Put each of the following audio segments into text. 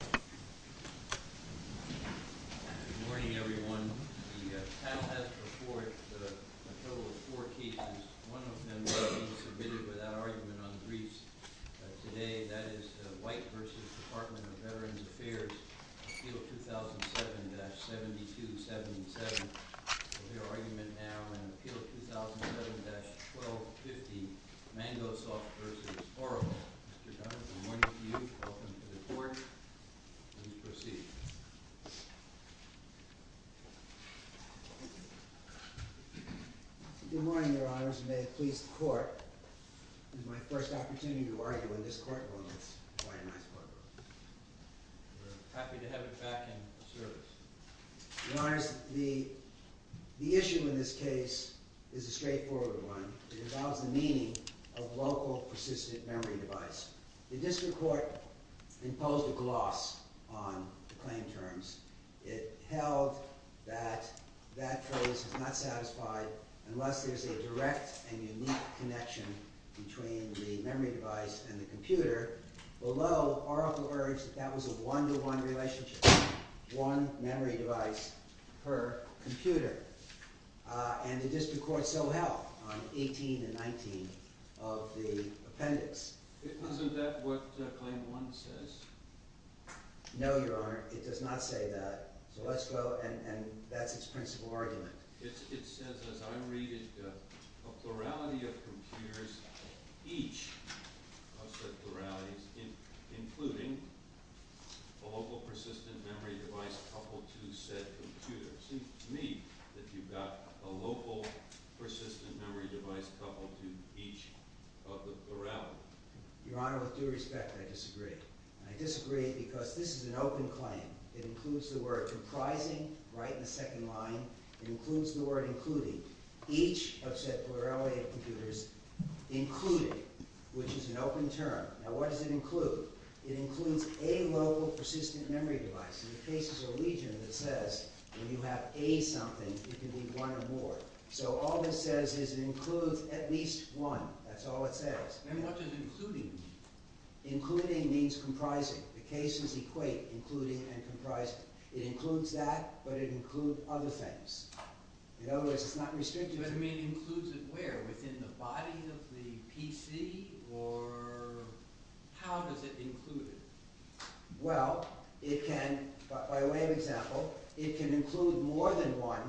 Good morning, everyone. The panel has to report a total of four cases. One of them will be submitted without argument on briefs today. That is the White v. Department of Veterans Affairs, Appeal 2007-7277. We'll hear argument now in Appeal 2007-1250, Mangosoft v. Oracle. Mr. Dunn, good morning to you. Welcome to the court. Please proceed. Good morning, Your Honors. May it please the court, this is my first opportunity to argue in this courtroom. It's quite a nice one. We're happy to have you back in the service. Your Honors, the issue in this case is a straightforward one. It involves the meaning of local persistent memory device. The district court imposed a gloss on the claim terms. It held that that phrase is not satisfied unless there's a direct and unique connection between the memory device and the computer. Below, Oracle urged that that was a one-to-one relationship, one memory device per computer. And the district court so held on 18 and 19 of the appendix. Isn't that what Claim 1 says? No, Your Honor, it does not say that. So let's go and that's its principal argument. It says, as I read it, a plurality of computers, each of the pluralities, including a local persistent memory device coupled to said computer. It seems to me that you've got a local persistent memory device coupled to each of the pluralities. Your Honor, with due respect, I disagree. I disagree because this is an open claim. It includes the word comprising right in the second line. It includes the word including. Each of said plurality of computers, including, which is an open term. Now what does it include? It includes a local persistent memory device. And it faces a legion that says when you have a something, it can be one or more. So all this says is it includes at least one. That's all it says. What does including mean? Including means comprising. The cases equate including and comprising. It includes that, but it includes other things. In other words, it's not restricting. But it includes it where? Within the body of the PC? Or how does it include it? Well, it can, by way of example, it can include more than one.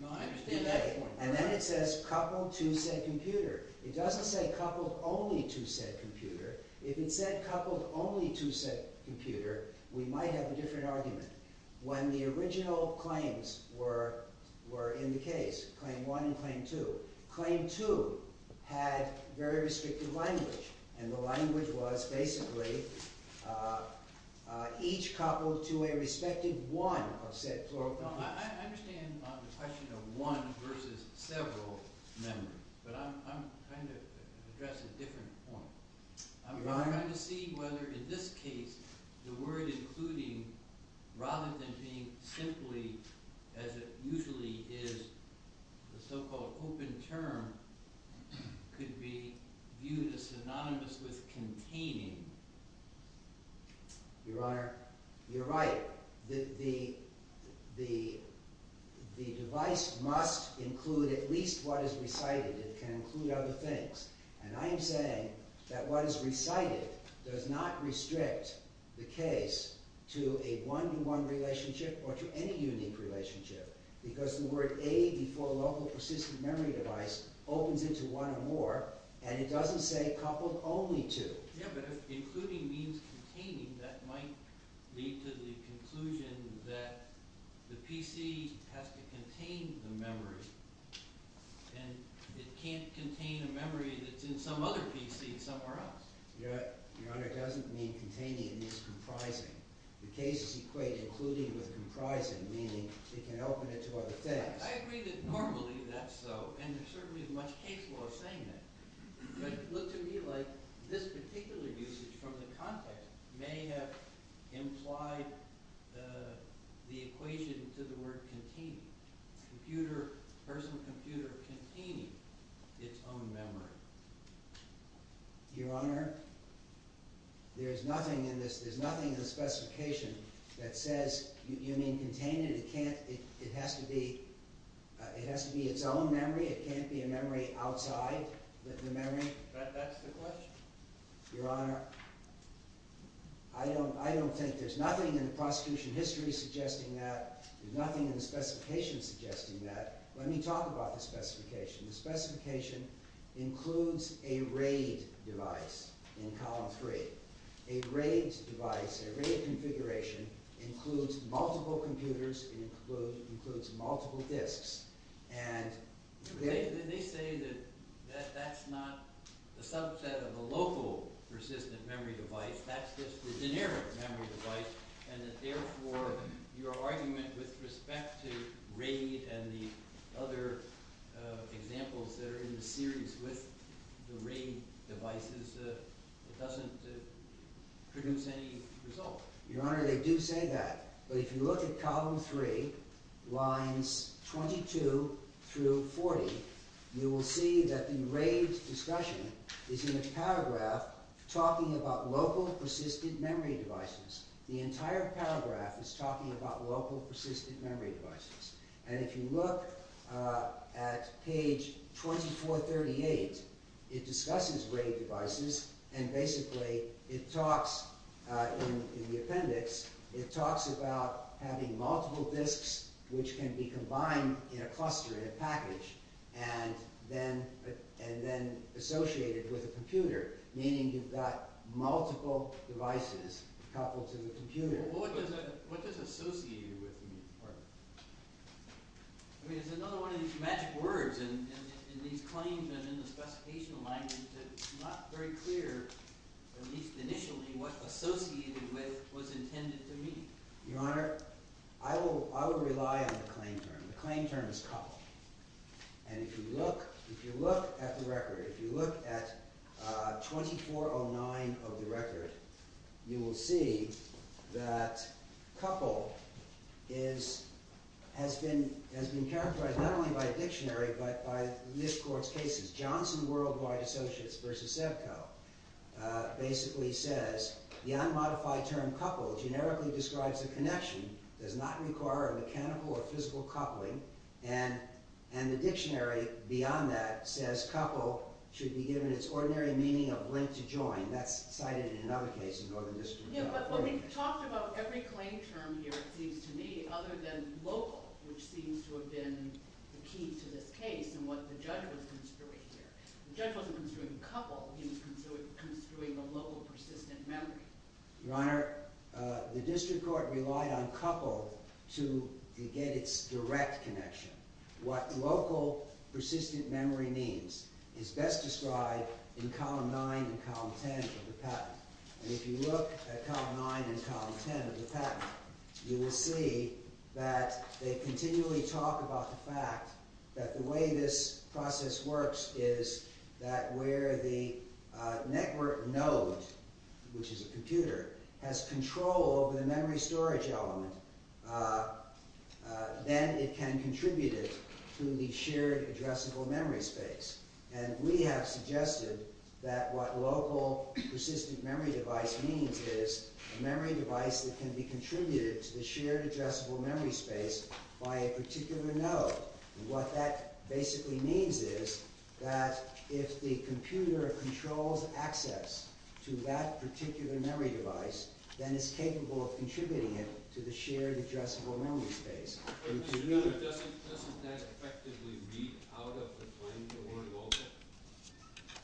No, I understand that point. And then it says coupled to said computer. It doesn't say coupled only to said computer. If it said coupled only to said computer, we might have a different argument. When the original claims were in the case, claim one and claim two, claim two had very restrictive language. And the language was basically each coupled to a respective one of said plural computers. I understand the question of one versus several memories, but I'm trying to address a different point. I'm trying to see whether in this case the word including, rather than being simply as it usually is, the so-called open term, could be viewed as synonymous with containing. Your Honor, you're right. The device must include at least what is recited. It can include other things. And I'm saying that what is recited does not restrict the case to a one-to-one relationship or to any unique relationship. Because the word a before local persistent memory device opens into one or more, and it doesn't say coupled only to. If including means containing, that might lead to the conclusion that the PC has to contain the memory, and it can't contain a memory that's in some other PC somewhere else. Your Honor, it doesn't mean containing. It means comprising. The case is equated including with comprising, meaning it can open it to other things. I agree that normally that's so, and there certainly is much case law saying that. But it looks to me like this particular usage from the context may have implied the equation to the word containing. The person computer containing its own memory. Your Honor, there's nothing in the specification that says you mean containing it. It has to be its own memory. It can't be a memory outside the memory. That's the question? Your Honor, I don't think there's nothing in the prosecution history suggesting that. There's nothing in the specification suggesting that. Let me talk about the specification. The specification includes a RAID device in column three. A RAID device, a RAID configuration, includes multiple computers. It includes multiple disks. They say that that's not a subset of a local persistent memory device. That's just a generic memory device. Therefore, your argument with respect to RAID and the other examples that are in the series with the RAID devices doesn't produce any result. Your Honor, they do say that. But if you look at column three, lines 22 through 40, you will see that the RAID discussion is in a paragraph talking about local persistent memory devices. The entire paragraph is talking about local persistent memory devices. If you look at page 2438, it discusses RAID devices. Basically, in the appendix, it talks about having multiple disks which can be combined in a cluster, in a package, and then associated with a computer, meaning you've got multiple devices coupled to the computer. Well, what does associated with mean, partner? I mean, it's another one of these magic words in these claims and in the specification language that it's not very clear, at least initially, what associated with was intended to mean. Your Honor, I will rely on the claim term. The claim term is coupled. And if you look at the record, if you look at 2409 of the record, you will see that coupled has been characterized not only by a dictionary but by this Court's cases. Johnson Worldwide Associates v. SEBCO basically says, the unmodified term coupled generically describes a connection, does not require a mechanical or physical coupling, and the dictionary beyond that says coupled should be given its ordinary meaning of link to join. That's cited in another case in Northern District. Yeah, but when we talked about every claim term here, it seems to me, other than local, which seems to have been the key to this case and what the judge was construing here, the judge wasn't construing coupled, he was construing a local persistent memory. Your Honor, the District Court relied on coupled to get its direct connection. What local persistent memory means is best described in Column 9 and Column 10 of the patent. And if you look at Column 9 and Column 10 of the patent, you will see that they continually talk about the fact that the way this process works is that where the network node, which is a computer, has control over the memory storage element, then it can contribute it to the shared addressable memory space. And we have suggested that what local persistent memory device means is a memory device that can be contributed to the shared addressable memory space by a particular node. And what that basically means is that if the computer controls access to that particular memory device, then it's capable of contributing it to the shared addressable memory space. Doesn't that effectively read out of the claim award also?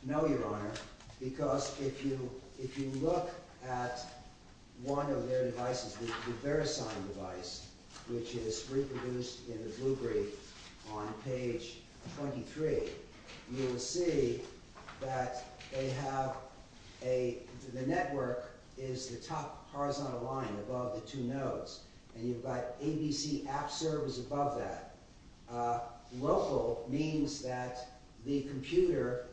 No, Your Honor, because if you look at one of their devices, the VeriSign device, which is reproduced in the blue brief on page 23, you will see that the network is the top horizontal line above the two nodes. And you've got ABC App Service above that. Local means that the computer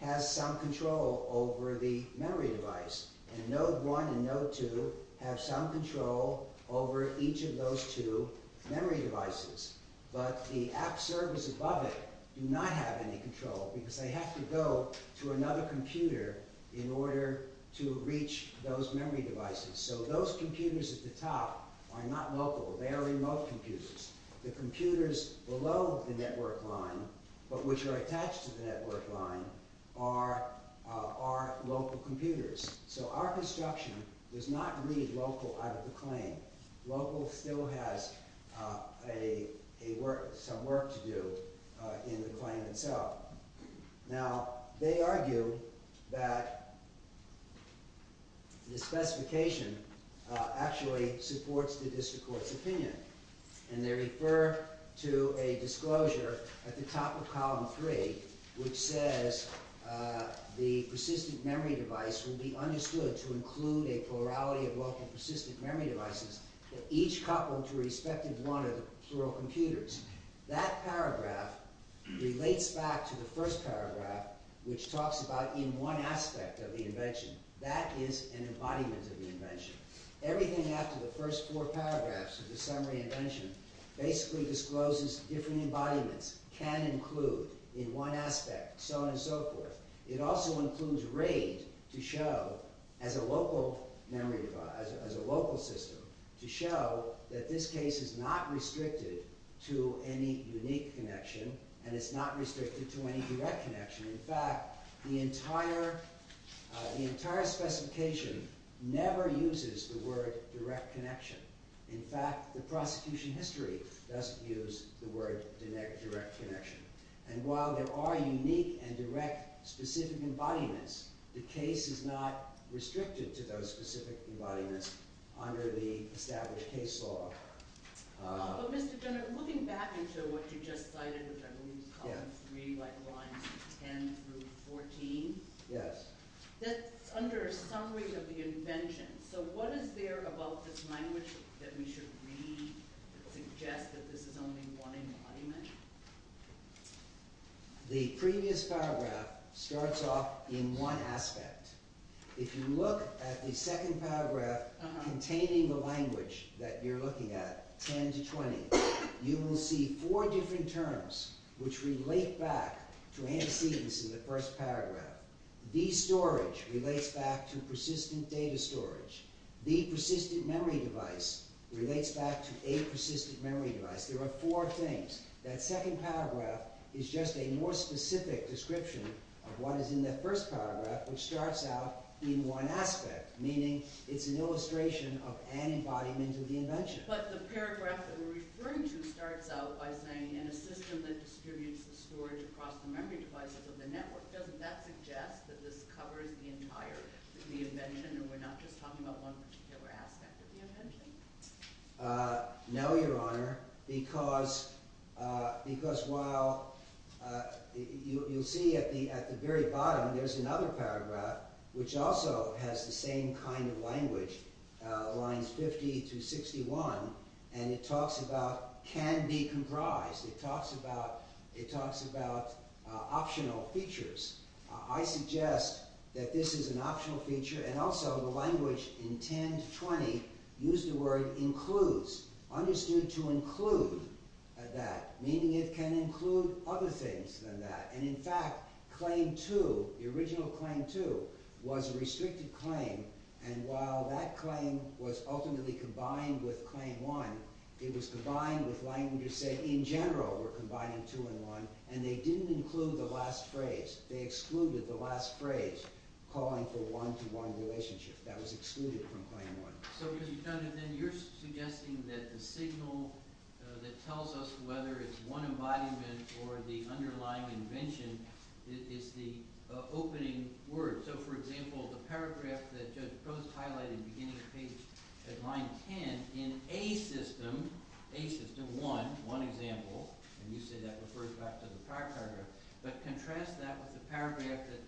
has some control over the memory device. And Node 1 and Node 2 have some control over each of those two memory devices. But the App Service above it do not have any control because they have to go to another computer in order to reach those memory devices. So those computers at the top are not local. They are remote computers. The computers below the network line, but which are attached to the network line, are local computers. So our construction does not read local out of the claim. Local still has some work to do in the claim itself. Now, they argue that the specification actually supports the district court's opinion. And they refer to a disclosure at the top of column 3, which says the persistent memory device will be understood to include a plurality of local persistent memory devices, each coupled to respective one of the plural computers. That paragraph relates back to the first paragraph, which talks about in one aspect of the invention. That is an embodiment of the invention. Everything after the first four paragraphs of the summary invention basically discloses different embodiments can include in one aspect, so on and so forth. It also includes RAID to show, as a local system, to show that this case is not restricted to any unique connection, and it's not restricted to any direct connection. In fact, the entire specification never uses the word direct connection. In fact, the prosecution history doesn't use the word direct connection. And while there are unique and direct specific embodiments, the case is not restricted to those specific embodiments under the established case law. But Mr. General, looking back into what you just cited, which I believe is column 3, like lines 10 through 14. Yes. That's under a summary of the invention. So what is there about this language that we should read that suggests that this is only one embodiment? The previous paragraph starts off in one aspect. If you look at the second paragraph containing the language that you're looking at, 10 to 20, you will see four different terms which relate back to antecedents in the first paragraph. The storage relates back to persistent data storage. The persistent memory device relates back to a persistent memory device. There are four things. That second paragraph is just a more specific description of what is in that first paragraph, which starts out in one aspect, meaning it's an illustration of an embodiment of the invention. But the paragraph that we're referring to starts out by saying, in a system that distributes the storage across the memory devices of the network, doesn't that suggest that this covers the entire invention and we're not just talking about one particular aspect of the invention? No, Your Honor, because while you'll see at the very bottom there's another paragraph which also has the same kind of language, lines 50 through 61, and it talks about can be comprised. It talks about optional features. I suggest that this is an optional feature and also the language in 10 to 20 used the word includes, understood to include that, meaning it can include other things than that. In fact, claim 2, the original claim 2, was a restricted claim, and while that claim was ultimately combined with claim 1, it was combined with language that said in general we're combining 2 and 1, and they didn't include the last phrase. They excluded the last phrase, calling for a one-to-one relationship. That was excluded from claim 1. Your Honor, then you're suggesting that the signal that tells us whether it's one embodiment or the underlying invention is the opening word. So, for example, the paragraph that Judge Gross highlighted at the beginning of page line 10 in A system, A system 1, one example, and you say that refers back to the paragraph, but contrast that with the paragraph that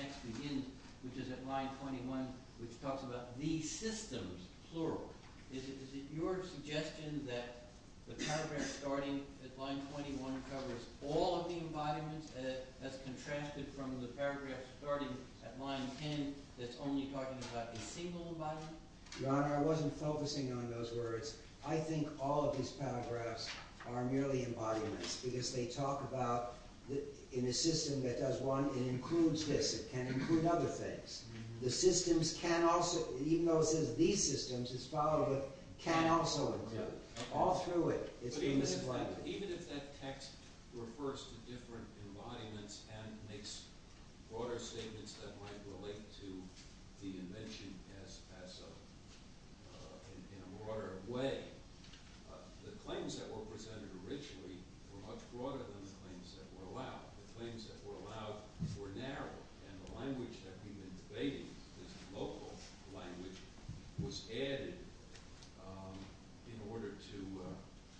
next begins, which is at line 21, which talks about the systems, plural. Is it your suggestion that the paragraph starting at line 21 covers all of the embodiments, and that's contrasted from the paragraph starting at line 10 that's only talking about a single embodiment? Your Honor, I wasn't focusing on those words. I think all of these paragraphs are merely embodiments because they talk about, in a system that does one, it includes this. It can include other things. Even though it says these systems, it's followed with can also include. All through it, it's been misplaced. Even if that text refers to different embodiments and makes broader statements that might relate to the invention in a broader way, the claims that were presented originally were much broader than the claims that were allowed. The claims that were allowed were narrow, and the language that we've been debating, the local language, was added in order to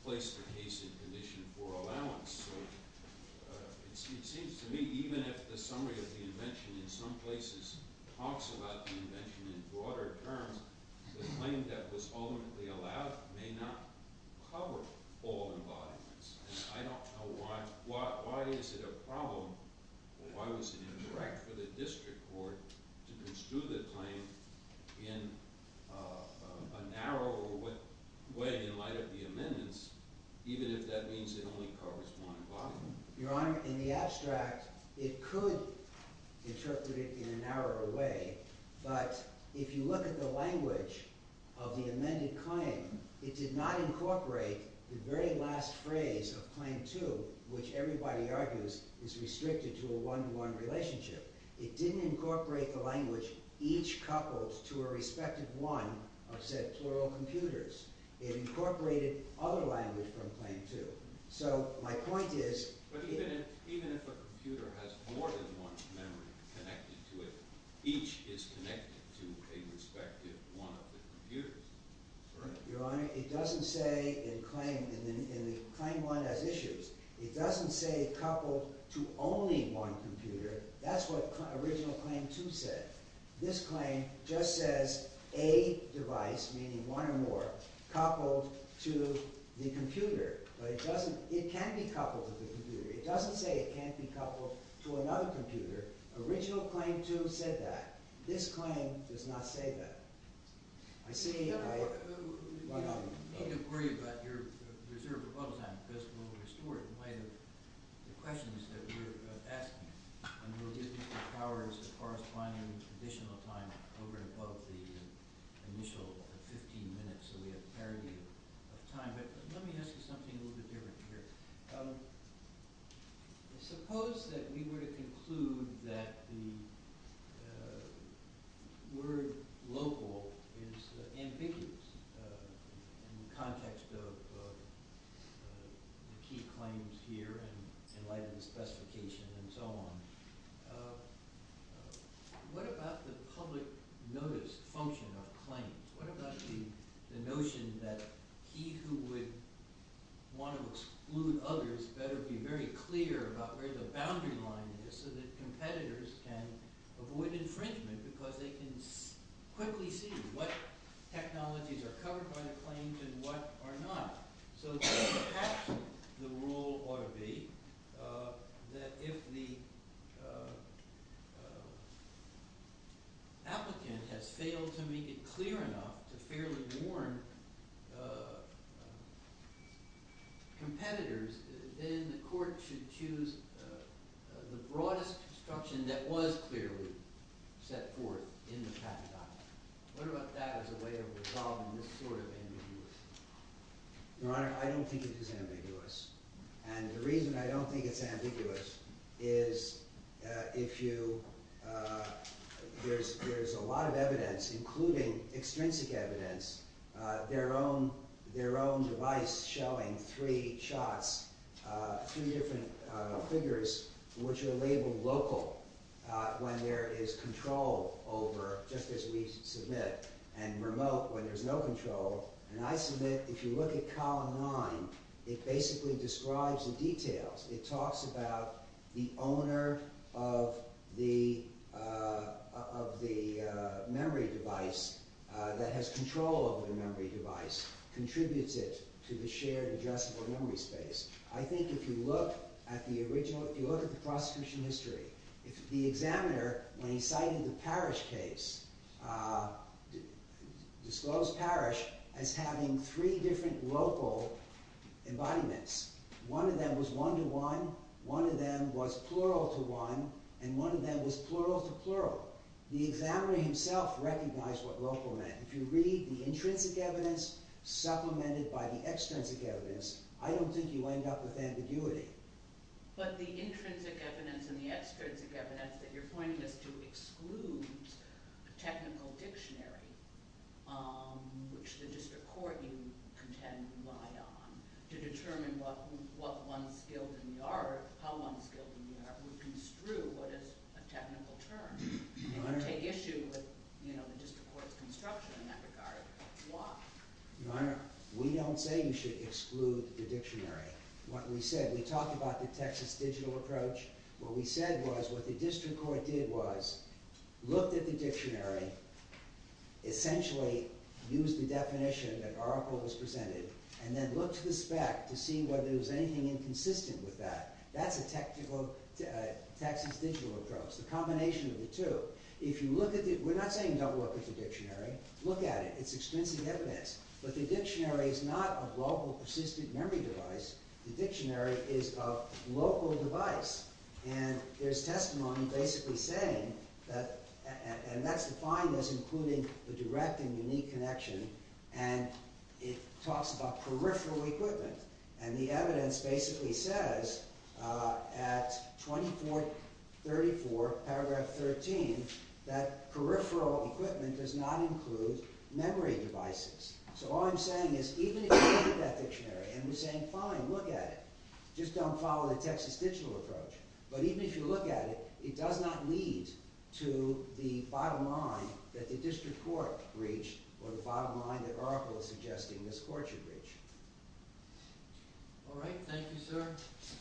place the case in condition for allowance. It seems to me, even if the summary of the invention in some places talks about the invention in broader terms, the claim that was ultimately allowed may not cover all embodiments. I don't know why is it a problem or why was it incorrect for the district court to construe the claim in a narrower way in light of the amendments, even if that means it only covers one embodiment. Your Honor, in the abstract, it could interpret it in a narrower way, but if you look at the language of the amended claim, it did not incorporate the very last phrase of Claim 2, which everybody argues is restricted to a one-to-one relationship. It didn't incorporate the language each coupled to a respective one of said plural computers. It incorporated other language from Claim 2. But even if a computer has more than one memory connected to it, each is connected to a respective one of the computers. Your Honor, it doesn't say in Claim 1 as issues. It doesn't say coupled to only one computer. That's what original Claim 2 said. This claim just says a device, meaning one or more, coupled to the computer. But it can't be coupled to the computer. It doesn't say it can't be coupled to another computer. Original Claim 2 said that. This claim does not say that. I see. Your Honor, you don't need to worry about your reserve of bubble time because we'll restore it in light of the questions that we're asking. And we'll give you the powers as far as finding additional time over and above the initial 15 minutes that we have parity of time. But let me ask you something a little bit different here. Suppose that we were to conclude that the word local is ambiguous in the context of the key claims here in light of the specification and so on. What about the public notice function of claims? What about the notion that he who would want to exclude others better be very clear about where the boundary line is so that competitors can avoid infringement because they can quickly see what technologies are covered by the claims and what are not? So perhaps the rule ought to be that if the applicant has failed to make it clear enough to fairly warn competitors, then the court should choose the broadest construction that was clearly set forth in the paradigm. What about that as a way of resolving this sort of ambiguity? Your Honor, I don't think it is ambiguous. And the reason I don't think it's ambiguous is if you – there's a lot of evidence, including extrinsic evidence, their own device showing three shots, three different figures, which are labeled local when there is control over, just as we submit, and remote when there's no control. And I submit if you look at Column 9, it basically describes the details. It talks about the owner of the memory device that has control over the memory device contributes it to the shared addressable memory space. I think if you look at the original – if you look at the prosecution history, the examiner, when he cited the Parrish case, disclosed Parrish as having three different local embodiments. One of them was one-to-one, one of them was plural-to-one, and one of them was plural-to-plural. The examiner himself recognized what local meant. If you read the intrinsic evidence supplemented by the extrinsic evidence, I don't think you end up with ambiguity. But the intrinsic evidence and the extrinsic evidence that you're pointing us to excludes the technical dictionary, which the district court, you contend, would rely on to determine what one's skilled in the art – how one's skilled in the art would construe what is a technical term. It would take issue with the district court's construction in that regard. Why? Your Honor, we don't say you should exclude the dictionary. What we said – we talked about the Texas digital approach. What we said was what the district court did was looked at the dictionary, essentially used the definition that Oracle has presented, and then looked to the spec to see whether there was anything inconsistent with that. That's a Texas digital approach, the combination of the two. We're not saying don't look at the dictionary. Look at it. It's extrinsic evidence. But the dictionary is not a global persistent memory device. The dictionary is a local device, and there's testimony basically saying – and that's defined as including the direct and unique connection, and it talks about peripheral equipment. And the evidence basically says at 2434, paragraph 13, that peripheral equipment does not include memory devices. So all I'm saying is even if you look at that dictionary, and we're saying fine, look at it, just don't follow the Texas digital approach. But even if you look at it, it does not lead to the bottom line that the district court reached or the bottom line that Oracle is suggesting this court should reach. All right. Thank you, sir. Mr.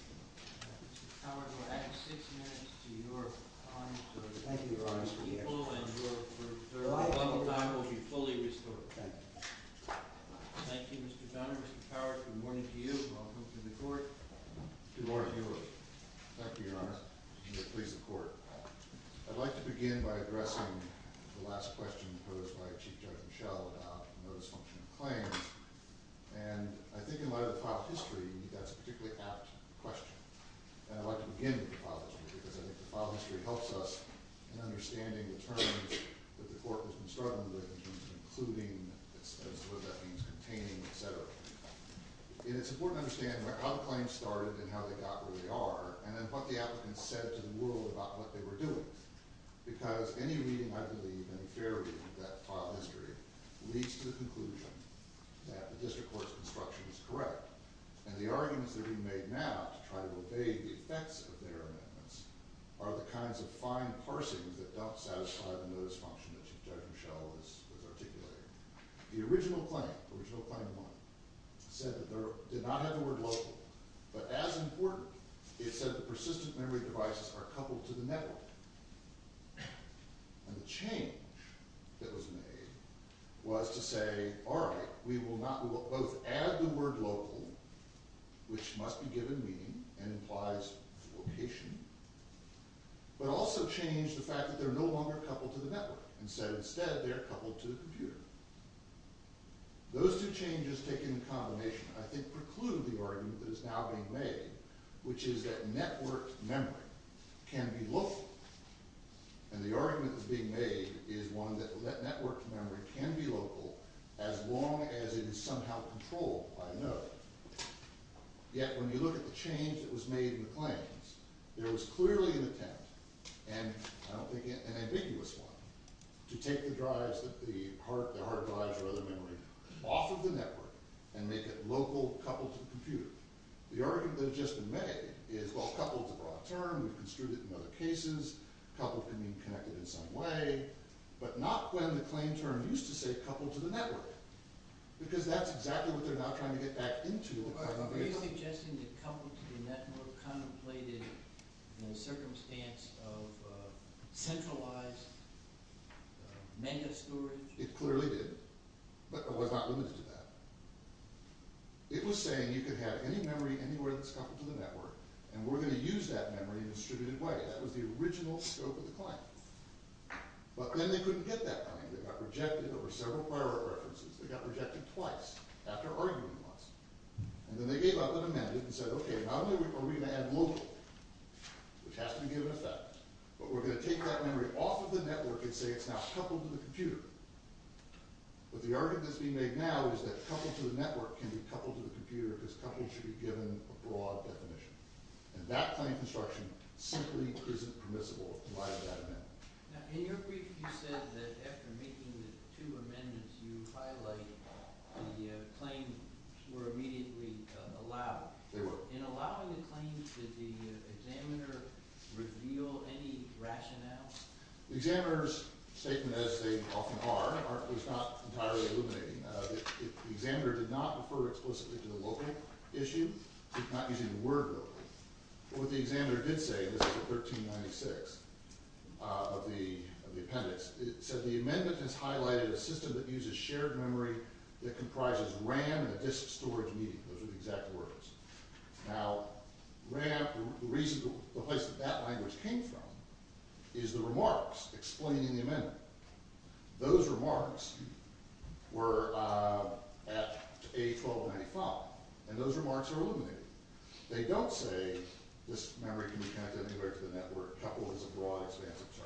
Power, you'll have six minutes to your time. Thank you, Your Honor. And your time will be fully restored. Thank you. Thank you, Mr. Donner. Mr. Power, good morning to you. Welcome to the court. Good morning, Your Honor. Thank you, Your Honor. And please, the court. I'd like to begin by addressing the last question posed by Chief Judge Michel about the notice function of claims. And I think in light of the file history, that's a particularly apt question. And I'd like to begin with the file history because I think the file history helps us in understanding the terms that the court has been struggling with in terms of including, as to what that means, containing, et cetera. And it's important to understand how the claims started and how they got where they are and then what the applicants said to the world about what they were doing. Because any reading, I believe, any fair reading of that file history leads to the conclusion that the district court's construction is correct. And the arguments that are being made now to try to obey the effects of their amendments are the kinds of fine parsings that don't satisfy the notice function that Chief Judge Michel has articulated. The original claim, original claim one, said that they did not have the word local. But as important, it said that persistent memory devices are coupled to the network. And the change that was made was to say, all right, we will not, we will both add the word local, which must be given meaning and implies location, but also change the fact that they're no longer coupled to the network. Instead, they're coupled to the computer. Those two changes taken in combination, I think, preclude the argument that is now being made, which is that networked memory can be local. And the argument that's being made is one that networked memory can be local as long as it is somehow controlled by a node. Yet when you look at the change that was made in the claims, there was clearly an attempt, and I don't think an ambiguous one, to take the drives, the hard drives or other memory, off of the network and make it local coupled to the computer. The argument that has just been made is, well, coupled is a broad term. We've construed it in other cases. Coupled can mean connected in some way. But not when the claim term used to say coupled to the network, because that's exactly what they're now trying to get back into. Are you suggesting that coupled to the network contemplated in a circumstance of centralized mega storage? It clearly did, but it was not limited to that. It was saying you could have any memory anywhere that's coupled to the network, and we're going to use that memory in a distributed way. That was the original scope of the claim. But then they couldn't get that money. They got rejected. There were several prior references. They got rejected twice after arguing once. And then they gave up and amended and said, okay, not only are we going to add local, which has to be given effect, but we're going to take that memory off of the network and say it's now coupled to the computer. But the argument that's being made now is that coupled to the network can be coupled to the computer because coupled should be given a broad definition. And that claim construction simply isn't permissible in light of that amendment. Now, in your brief, you said that after making the two amendments, you highlighted the claim were immediately allowed. They were. In allowing the claims, did the examiner reveal any rationale? The examiner's statement, as they often are, was not entirely illuminating. The examiner did not refer explicitly to the local issue. He's not using the word local. What the examiner did say, and this was in 1396 of the appendix, it said the amendment has highlighted a system that uses shared memory that comprises RAM and a disk storage medium. Those are the exact words. Now, RAM, the place that that language came from is the remarks explaining the amendment. Those remarks were at A1295, and those remarks are illuminating. They don't say this memory can be connected anywhere to the network. Coupled is a broad, expansive term.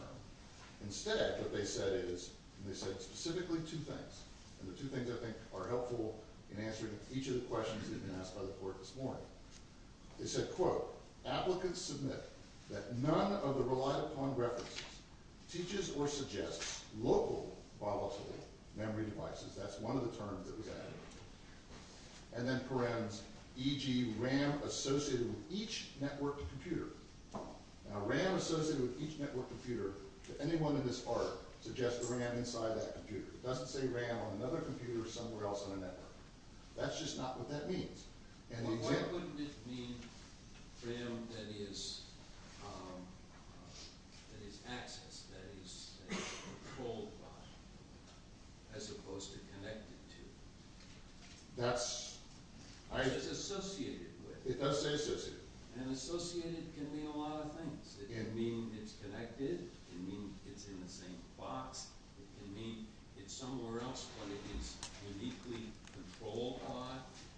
Instead, what they said is, and they said specifically two things, and the two things I think are helpful in answering each of the questions that have been asked by the court this morning. They said, quote, applicants submit that none of the relied-upon references teaches or suggests local volatile memory devices. That's one of the terms that was added. And then parens, e.g., RAM associated with each networked computer. Now, RAM associated with each networked computer, if anyone in this court suggests RAM inside that computer, it doesn't say RAM on another computer somewhere else on a network. That's just not what that means. Why wouldn't it mean RAM that is accessed, that is controlled by, as opposed to connected to? It says associated with. It does say associated. And associated can mean a lot of things. It can mean it's connected. It can mean it's in the same box. It can mean it's somewhere else, but it is uniquely controlled by.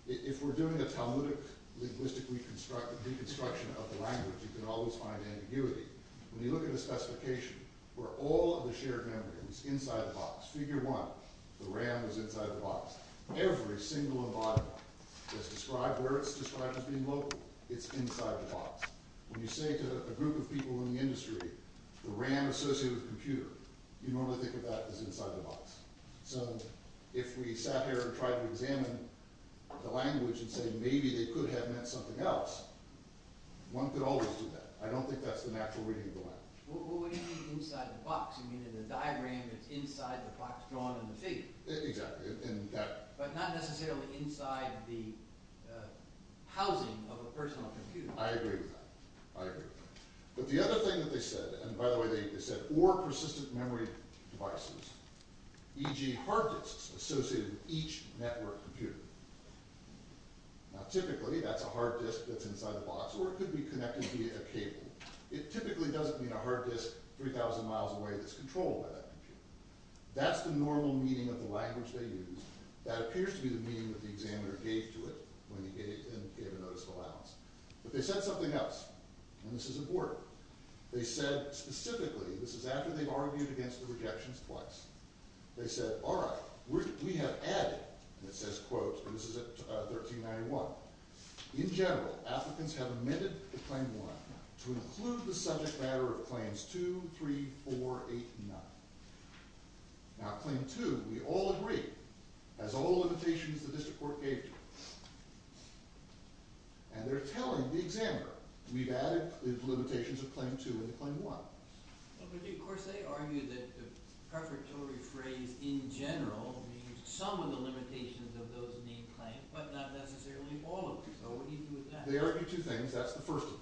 If we're doing a Talmudic linguistic reconstruction of the language, you can always find ambiguity. When you look at a specification where all of the shared memory is inside the box, figure one, the RAM is inside the box. Every single and bottom line that's described, where it's described as being local, it's inside the box. When you say to a group of people in the industry, the RAM associated with the computer, you normally think of that as inside the box. So if we sat here and tried to examine the language and say maybe they could have meant something else, one could always do that. I don't think that's the natural reading of the language. What do you mean inside the box? You mean in the diagram it's inside the box drawn in the figure. Exactly. But not necessarily inside the housing of a personal computer. I agree with that. I agree with that. But the other thing that they said, and by the way, they said, or persistent memory devices, e.g. hard disks associated with each network computer. Now typically that's a hard disk that's inside the box, or it could be connected via a cable. It typically doesn't mean a hard disk 3,000 miles away that's controlled by that computer. That's the normal meaning of the language they use. That appears to be the meaning that the examiner gave to it when he gave a notice of allowance. But they said something else, and this is important. They said specifically, this is after they've argued against the rejections twice. They said, all right, we have added, and it says, quote, and this is at 1391, in general, applicants have amended to claim one to include the subject matter of claims two, three, four, eight, nine. Now claim two, we all agree, has all the limitations the district court gave you. And they're telling the examiner, we've added the limitations of claim two in claim one. But of course they argue that the prefatory phrase in general means some of the limitations of those named claims, but not necessarily all of them. So what do you do with that? They argue two things. That's the first of them.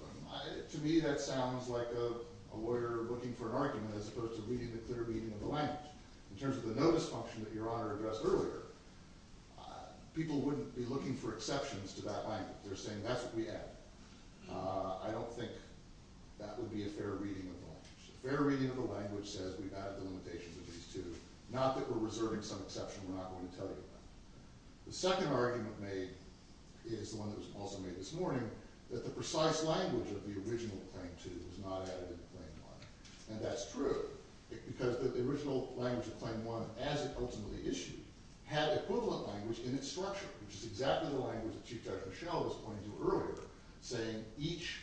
To me that sounds like a lawyer looking for an argument as opposed to reading the clear meaning of the language. In terms of the notice function that Your Honor addressed earlier, people wouldn't be looking for exceptions to that language. They're saying that's what we added. I don't think that would be a fair reading of the language. A fair reading of the language says we've added the limitations of these two, not that we're reserving some exception we're not going to tell you about. The second argument made is the one that was also made this morning, that the precise language of the original claim two was not added in claim one. And that's true, because the original language of claim one, as it ultimately issued, had equivalent language in its structure, which is exactly the language that Chief Judge Michelle was pointing to earlier, saying each,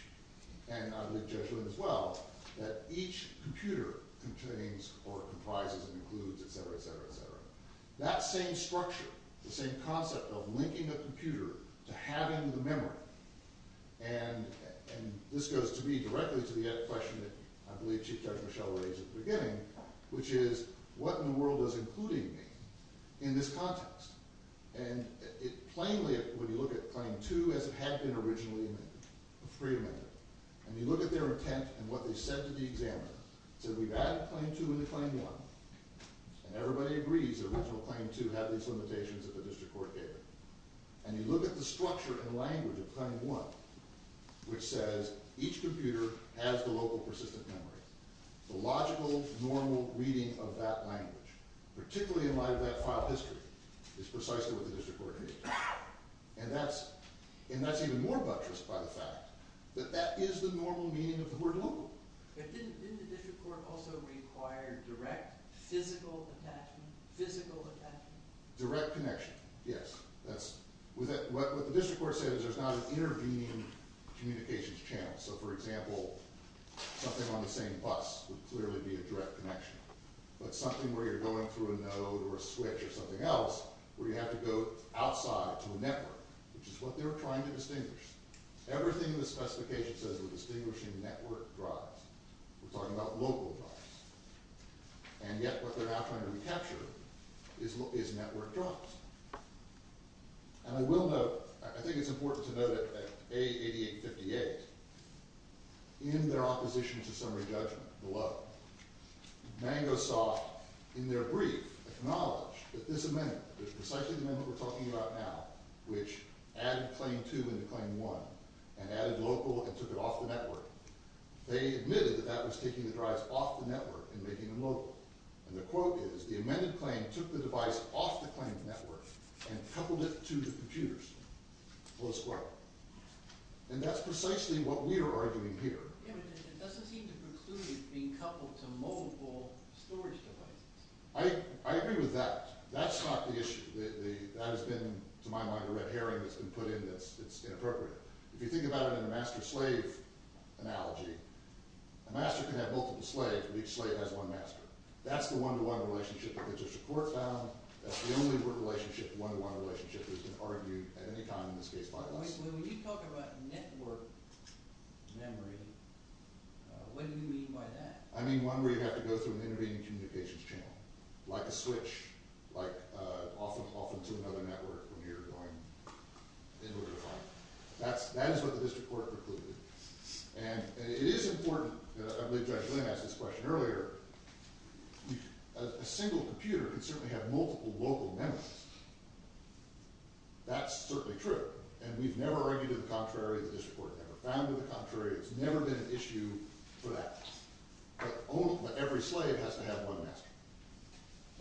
and I believe Judge Lynn as well, that each computer contains or comprises and includes, etc., etc., etc. That same structure, the same concept of linking a computer to having the memory, and this goes to me directly to the question that I believe Chief Judge Michelle raised at the beginning, which is what in the world does including mean in this context? And plainly, when you look at claim two as it had been originally amended, a free amendment, and you look at their intent and what they said to the examiner, they said we've added claim two into claim one, and everybody agrees that original claim two had these limitations that the district court gave it. And you look at the structure and language of claim one, which says each computer has the local persistent memory. The logical, normal reading of that language, particularly in light of that file history, is precisely what the district court gave it. And that's even more buttressed by the fact that that is the normal meaning of the word local. But didn't the district court also require direct physical attachment, physical attachment? Direct connection, yes. What the district court said is there's not an intervening communications channel. So, for example, something on the same bus would clearly be a direct connection. But something where you're going through a node or a switch or something else, where you have to go outside to a network, which is what they were trying to distinguish. Everything in the specification says we're distinguishing network drives. We're talking about local drives. And yet what they're now trying to recapture is network drives. And I will note, I think it's important to note that A8858, in their opposition to summary judgment below, Mango Soft, in their brief, acknowledged that this amendment, precisely the amendment we're talking about now, which added claim two into claim one, they admitted that that was taking the drives off the network and making them local. And the quote is, the amended claim took the device off the claimed network and coupled it to the computers. Close quote. And that's precisely what we are arguing here. Yeah, but it doesn't seem to preclude it being coupled to mobile storage devices. I agree with that. That's not the issue. That has been, to my mind, a red herring that's been put in that's inappropriate. If you think about it in a master-slave analogy, a master can have multiple slaves, but each slave has one master. That's the one-to-one relationship that gets its support found. That's the only one-to-one relationship that's been argued at any time in this case by us. When you talk about network memory, what do you mean by that? I mean one where you have to go through an intervening communications channel, like a switch, like off into another network when you're going in order to find it. That is what the district court concluded. And it is important, and I believe Judge Lynn asked this question earlier, a single computer can certainly have multiple local memories. That's certainly true. And we've never argued to the contrary. The district court never found to the contrary. It's never been an issue for that. But every slave has to have one master.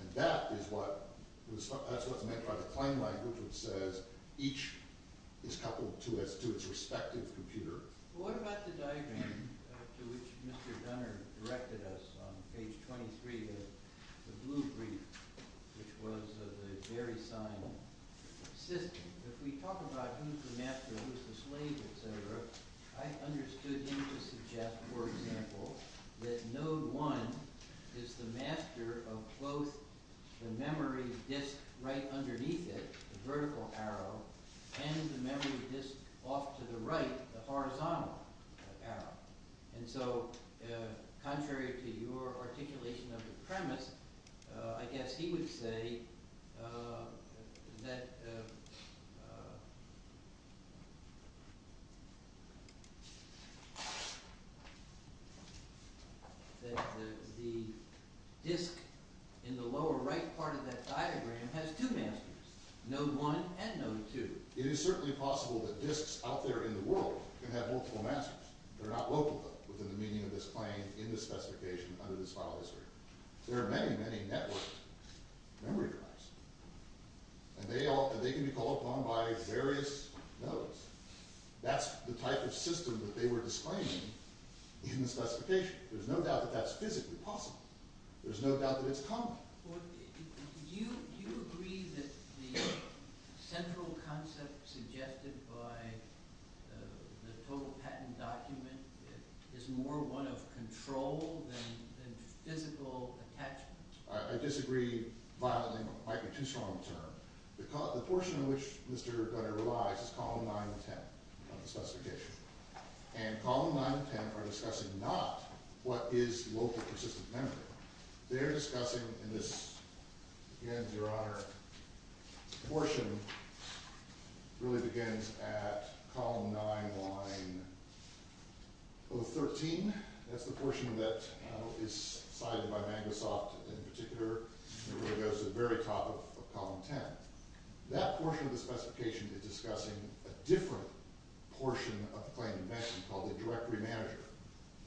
And that is what's meant by the claim language, which says each is coupled to its respective computer. What about the diagram to which Mr. Gunner directed us on page 23 of the blue brief, which was the very same system? If we talk about who's the master, who's the slave, et cetera, I understood him to suggest, for example, that node one is the master of both the memory disk right underneath it, the vertical arrow, and the memory disk off to the right, the horizontal arrow. And so contrary to your articulation of the premise, I guess he would say that the disk in the lower right part of that diagram has two masters, node one and node two. It is certainly possible that disks out there in the world can have multiple masters. They're not local, though, within the meaning of this claim in the specification under this file history. There are many, many network memory drives. And they can be called upon by various nodes. That's the type of system that they were disclaiming in the specification. There's no doubt that that's physically possible. There's no doubt that it's common. Do you agree that the central concept suggested by the total patent document is more one of control than physical attachment? I disagree violently. It might be too strong a term. The portion in which Mr. Gunnar relies is column 9 and 10 of the specification. And column 9 and 10 are discussing not what is local persistent memory. They're discussing, and this, again, Your Honor, portion really begins at column 9, line 13. That's the portion that is cited by Magnasoft in particular. It really goes to the very top of column 10. That portion of the specification is discussing a different portion of the claim you mentioned called the directory manager.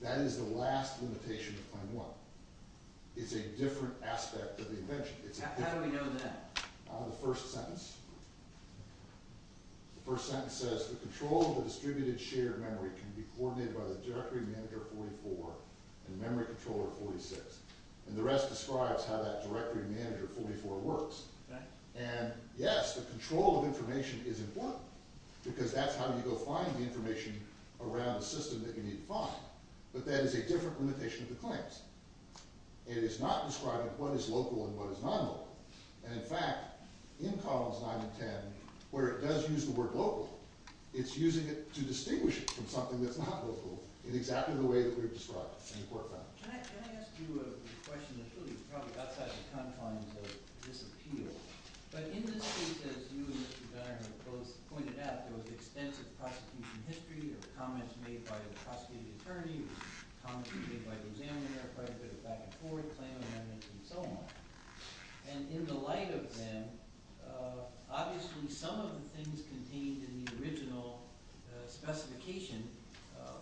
That is the last limitation of Claim 1. It's a different aspect of the invention. How do we know that? The first sentence says, The control of the distributed shared memory can be coordinated by the directory manager 44 and memory controller 46. And the rest describes how that directory manager 44 works. And, yes, the control of information is important because that's how you go find the information around the system that you need to find. But that is a different limitation of the claims. And it is not describing what is local and what is non-local. And, in fact, in columns 9 and 10, where it does use the word local, it's using it to distinguish it from something that's not local in exactly the way that we've described in the court file. Can I ask you a question that's really probably outside the confines of this appeal? But in this case, as you and Mr. Dunner have both pointed out, there was extensive prosecution history of comments made by the prosecuting attorney, comments made by the examiner, quite a bit of back and forth, claim amendments and so on. And in the light of them, obviously, some of the things contained in the original specification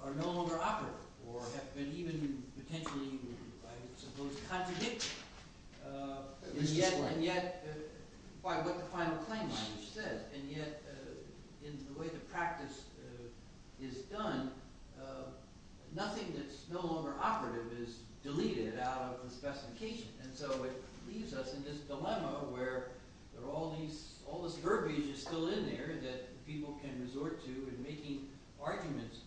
are no longer operative or have been even potentially, I suppose, contradicted. And yet, by what the final claim language says. And yet, in the way the practice is done, nothing that's no longer operative is deleted out of the specification. And so it leaves us in this dilemma where all this verbiage is still in there that people can resort to in making arguments.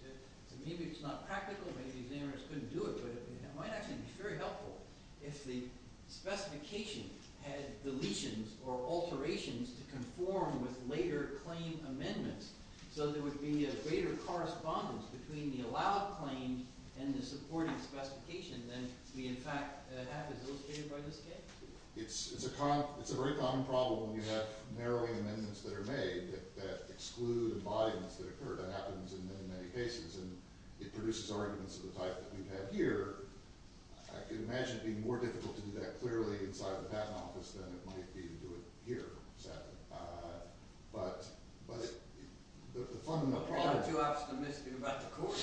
Maybe it's not practical. Maybe the examiners couldn't do it. But it might actually be very helpful if the specification had deletions or alterations to conform with later claim amendments. So there would be a greater correspondence between the allowed claim and the supporting specification than we, in fact, have as illustrated by this case. It's a very common problem when you have narrowing amendments that are made that exclude embodiments that occur. That happens in many, many cases. And it produces arguments of the type that we have here. I could imagine it being more difficult to do that clearly inside the patent office than it might be to do it here, sadly. But the fundamental problem – I'm not too optimistic about the court.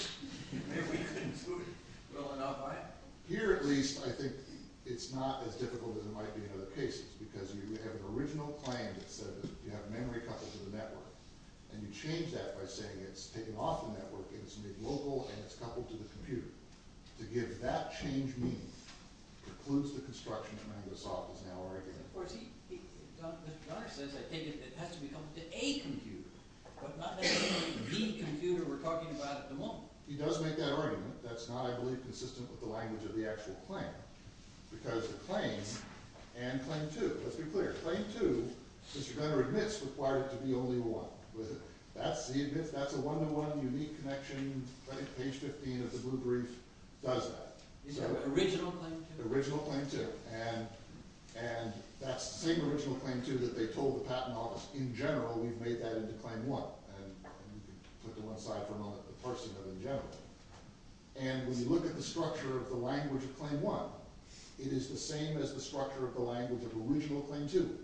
Maybe we couldn't do it well enough, I don't know. Here, at least, I think it's not as difficult as it might be in other cases because you have an original claim that said that you have memory coupled to the network. And you change that by saying it's taken off the network and it's made local and it's coupled to the computer. To give that change meaning precludes the construction that Mangosoft is now arguing. Of course, he – Mr. Gunnar says I think it has to be coupled to a computer, but not necessarily the computer we're talking about at the moment. He does make that argument. That's not, I believe, consistent with the language of the actual claim because the claim and claim two – let's be clear. Claim two, Mr. Gunnar admits, required it to be only one. Was it? That's – he admits that's a one-to-one unique connection. Page 15 of the blue brief does that. Is that original claim two? Original claim two. And that's the same original claim two that they told the patent office. In general, we've made that into claim one. And you can put them aside for a moment, but Parsingham in general. And when you look at the structure of the language of claim one, it is the same as the structure of the language of original claim two.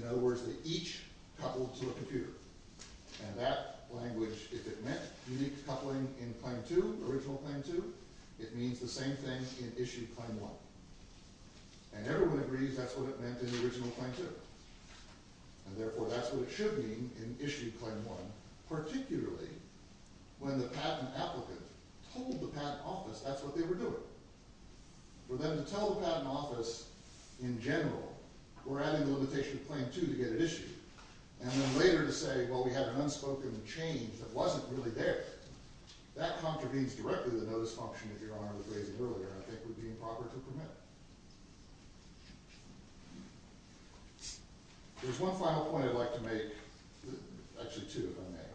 In other words, they each coupled to a computer. And that language, if it meant unique coupling in claim two, original claim two, it means the same thing in issue claim one. And everyone agrees that's what it meant in the original claim two. And therefore, that's what it should mean in issue claim one, particularly when the patent applicant told the patent office that's what they were doing. For them to tell the patent office in general, we're adding the limitation of claim two to get it issued. And then later to say, well, we had an unspoken change that wasn't really there. That contravenes directly the notice function that Your Honor was raising earlier and I think would be improper to permit. There's one final point I'd like to make. Actually, two, if I may.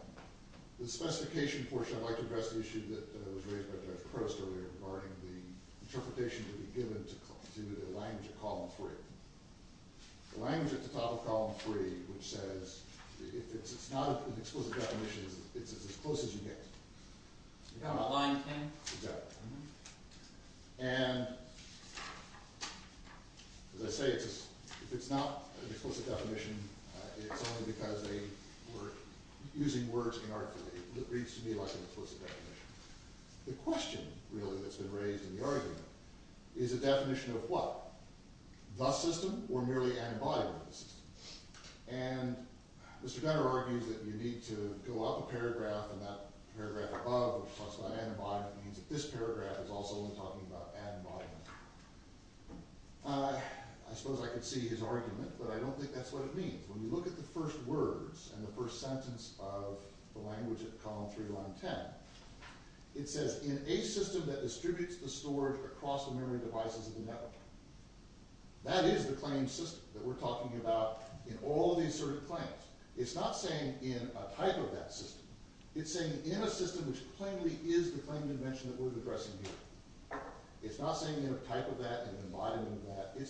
The specification portion, I'd like to address the issue that was raised by Judge Crost earlier regarding the interpretation to be given to the language of column three. The language at the top of column three, which says if it's not an explicit definition, it's as close as you get. You're talking about line 10? Exactly. And as I say, if it's not an explicit definition, it's only because they were using words inarticulate. It reads to me like an explicit definition. The question, really, that's been raised in the argument, is a definition of what? The system or merely antibody in the system? And Mr. Gunter argues that you need to go up a paragraph and that paragraph above, which talks about antibody, means that this paragraph is also talking about antibody. I suppose I could see his argument, but I don't think that's what it means. When you look at the first words and the first sentence of the language at column three, line 10, it says, in a system that distributes the storage across the memory devices of the network. That is the claimed system that we're talking about in all these sort of claims. It's not saying in a type of that system. It's saying in a system which plainly is the claimed invention that we're addressing here. It's not saying in a type of that, an embodiment of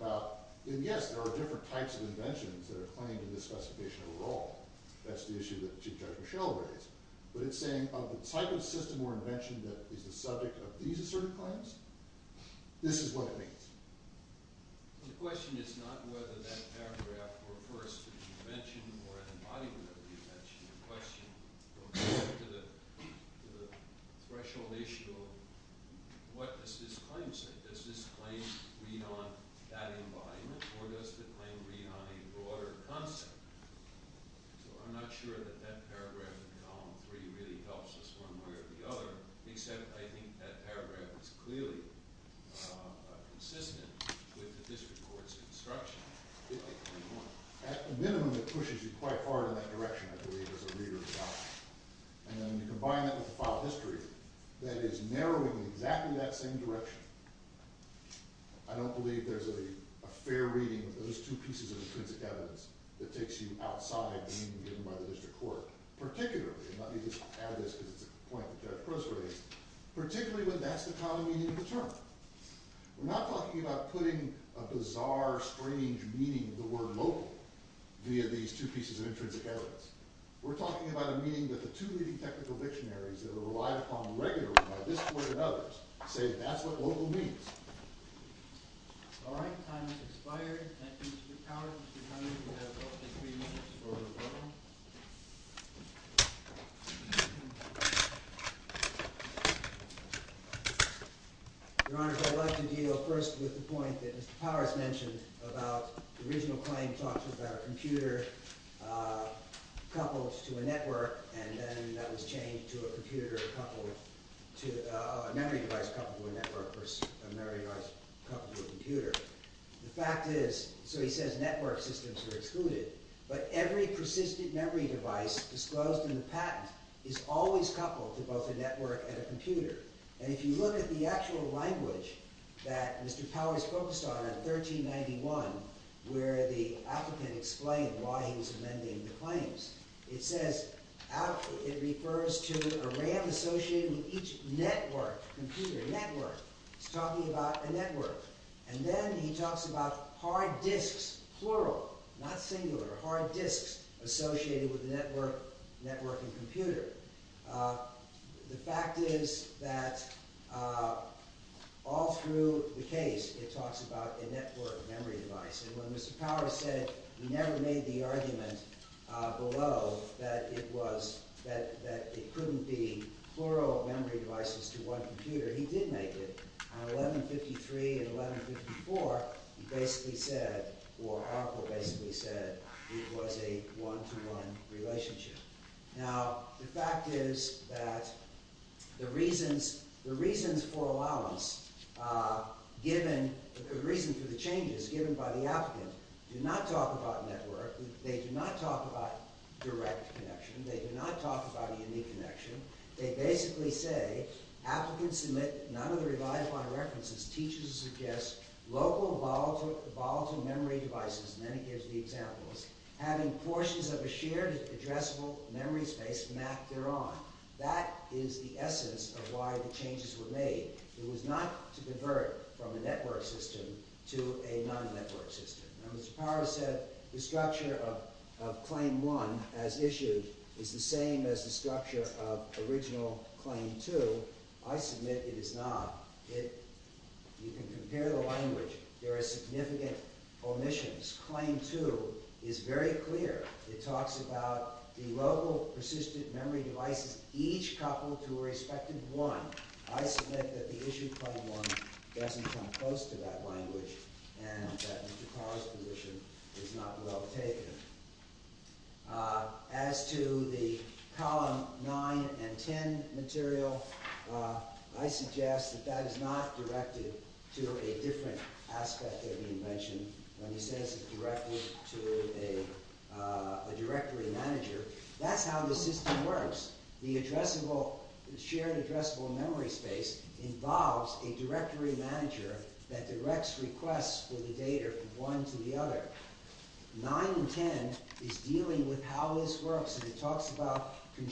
that. And yes, there are different types of inventions that are claimed in this specification overall. That's the issue that Chief Judge Michel raised. But it's saying of the type of system or invention that is the subject of these asserted claims, this is what it means. The question is not whether that paragraph refers to the invention or an embodiment of the invention. The question goes back to the threshold issue of what does this claim say? Does this claim read on that embodiment, or does the claim read on a broader concept? So I'm not sure that that paragraph in column three really helps us one way or the other, except I think that paragraph is clearly consistent with the district court's instruction. At a minimum, it pushes you quite far in that direction, I believe, as a reader of the document. And when you combine that with the file history, that is narrowing in exactly that same direction. I don't believe there's a fair reading of those two pieces of intrinsic evidence that takes you outside the meaning given by the district court, particularly, and let me just add this because it's a point that Judge Cruz raised, particularly when that's the common meaning of the term. We're not talking about putting a bizarre, strange meaning of the word local via these two pieces of intrinsic evidence. We're talking about a meaning that the two leading technical dictionaries that are relied upon regularly by this court and others say that's what local means. All right, time has expired. Thank you, Mr. Powers. Mr. Connolly, you have up to three minutes for rebuttal. Your Honor, I'd like to deal first with the point that Mr. Powers mentioned about the original claim talks about a computer coupled to a network and then that was changed to a memory device coupled to a network versus a memory device coupled to a computer. The fact is, so he says network systems are excluded, but every persistent memory device disclosed in the patent is always coupled to both a network and a computer. And if you look at the actual language that Mr. Powers focused on in 1391 where the applicant explained why he was amending the claims, it says, it refers to a RAM associated with each network, computer, network. He's talking about a network. And then he talks about hard disks, plural, not singular, hard disks associated with a network, network and computer. The fact is that all through the case, it talks about a network memory device. And when Mr. Powers said he never made the argument below that it couldn't be plural memory devices to one computer, he did make it. On 1153 and 1154, he basically said, or Harper basically said, it was a one-to-one relationship. Now, the fact is that the reasons for the changes given by the applicant do not talk about network. They do not talk about direct connection. They do not talk about a unique connection. They basically say, applicants submit none of the reliable references, teachers suggest local volatile memory devices, and then he gives the examples, having portions of a shared addressable memory space mapped thereon. That is the essence of why the changes were made. It was not to convert from a network system to a non-network system. Now, Mr. Powers said the structure of Claim 1 as issued is the same as the structure of original Claim 2. I submit it is not. You can compare the language. There are significant omissions. Claim 2 is very clear. It talks about the local persistent memory devices each coupled to a respective one. I submit that the issue of Claim 1 doesn't come close to that language and that Mr. Powers' position is not well taken. As to the Column 9 and 10 material, I suggest that that is not directed to a different aspect of the invention. When he says it is directed to a directory manager, that is how the system works. The shared addressable memory space involves a directory manager that directs requests for the data from one to the other. 9 and 10 is dealing with how this works. It talks about the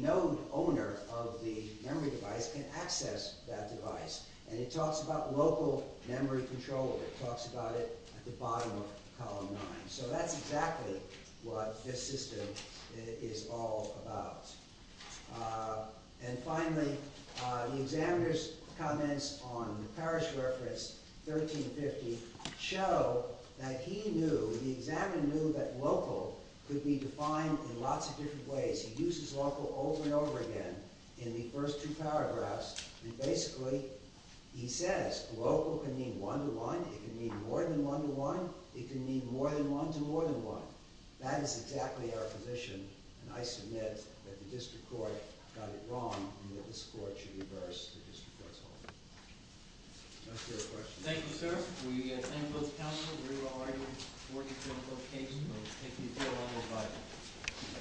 node owner of the memory device can access that device. It talks about local memory control. It talks about it at the bottom of Column 9. That is exactly what this system is all about. Finally, the examiner's comments on the parish reference 1350 show that the examiner knew that local could be defined in lots of different ways. He uses local over and over again in the first two paragraphs and basically he says local can mean one-to-one. It can mean more than one-to-one. It can mean more than one-to-more-than-one. That is exactly our position. I submit that the District Court got it wrong and that this Court should reverse the District Court's holdings. That's your question. Thank you, sir. We thank both counsel. We are already working to a close case. Thank you.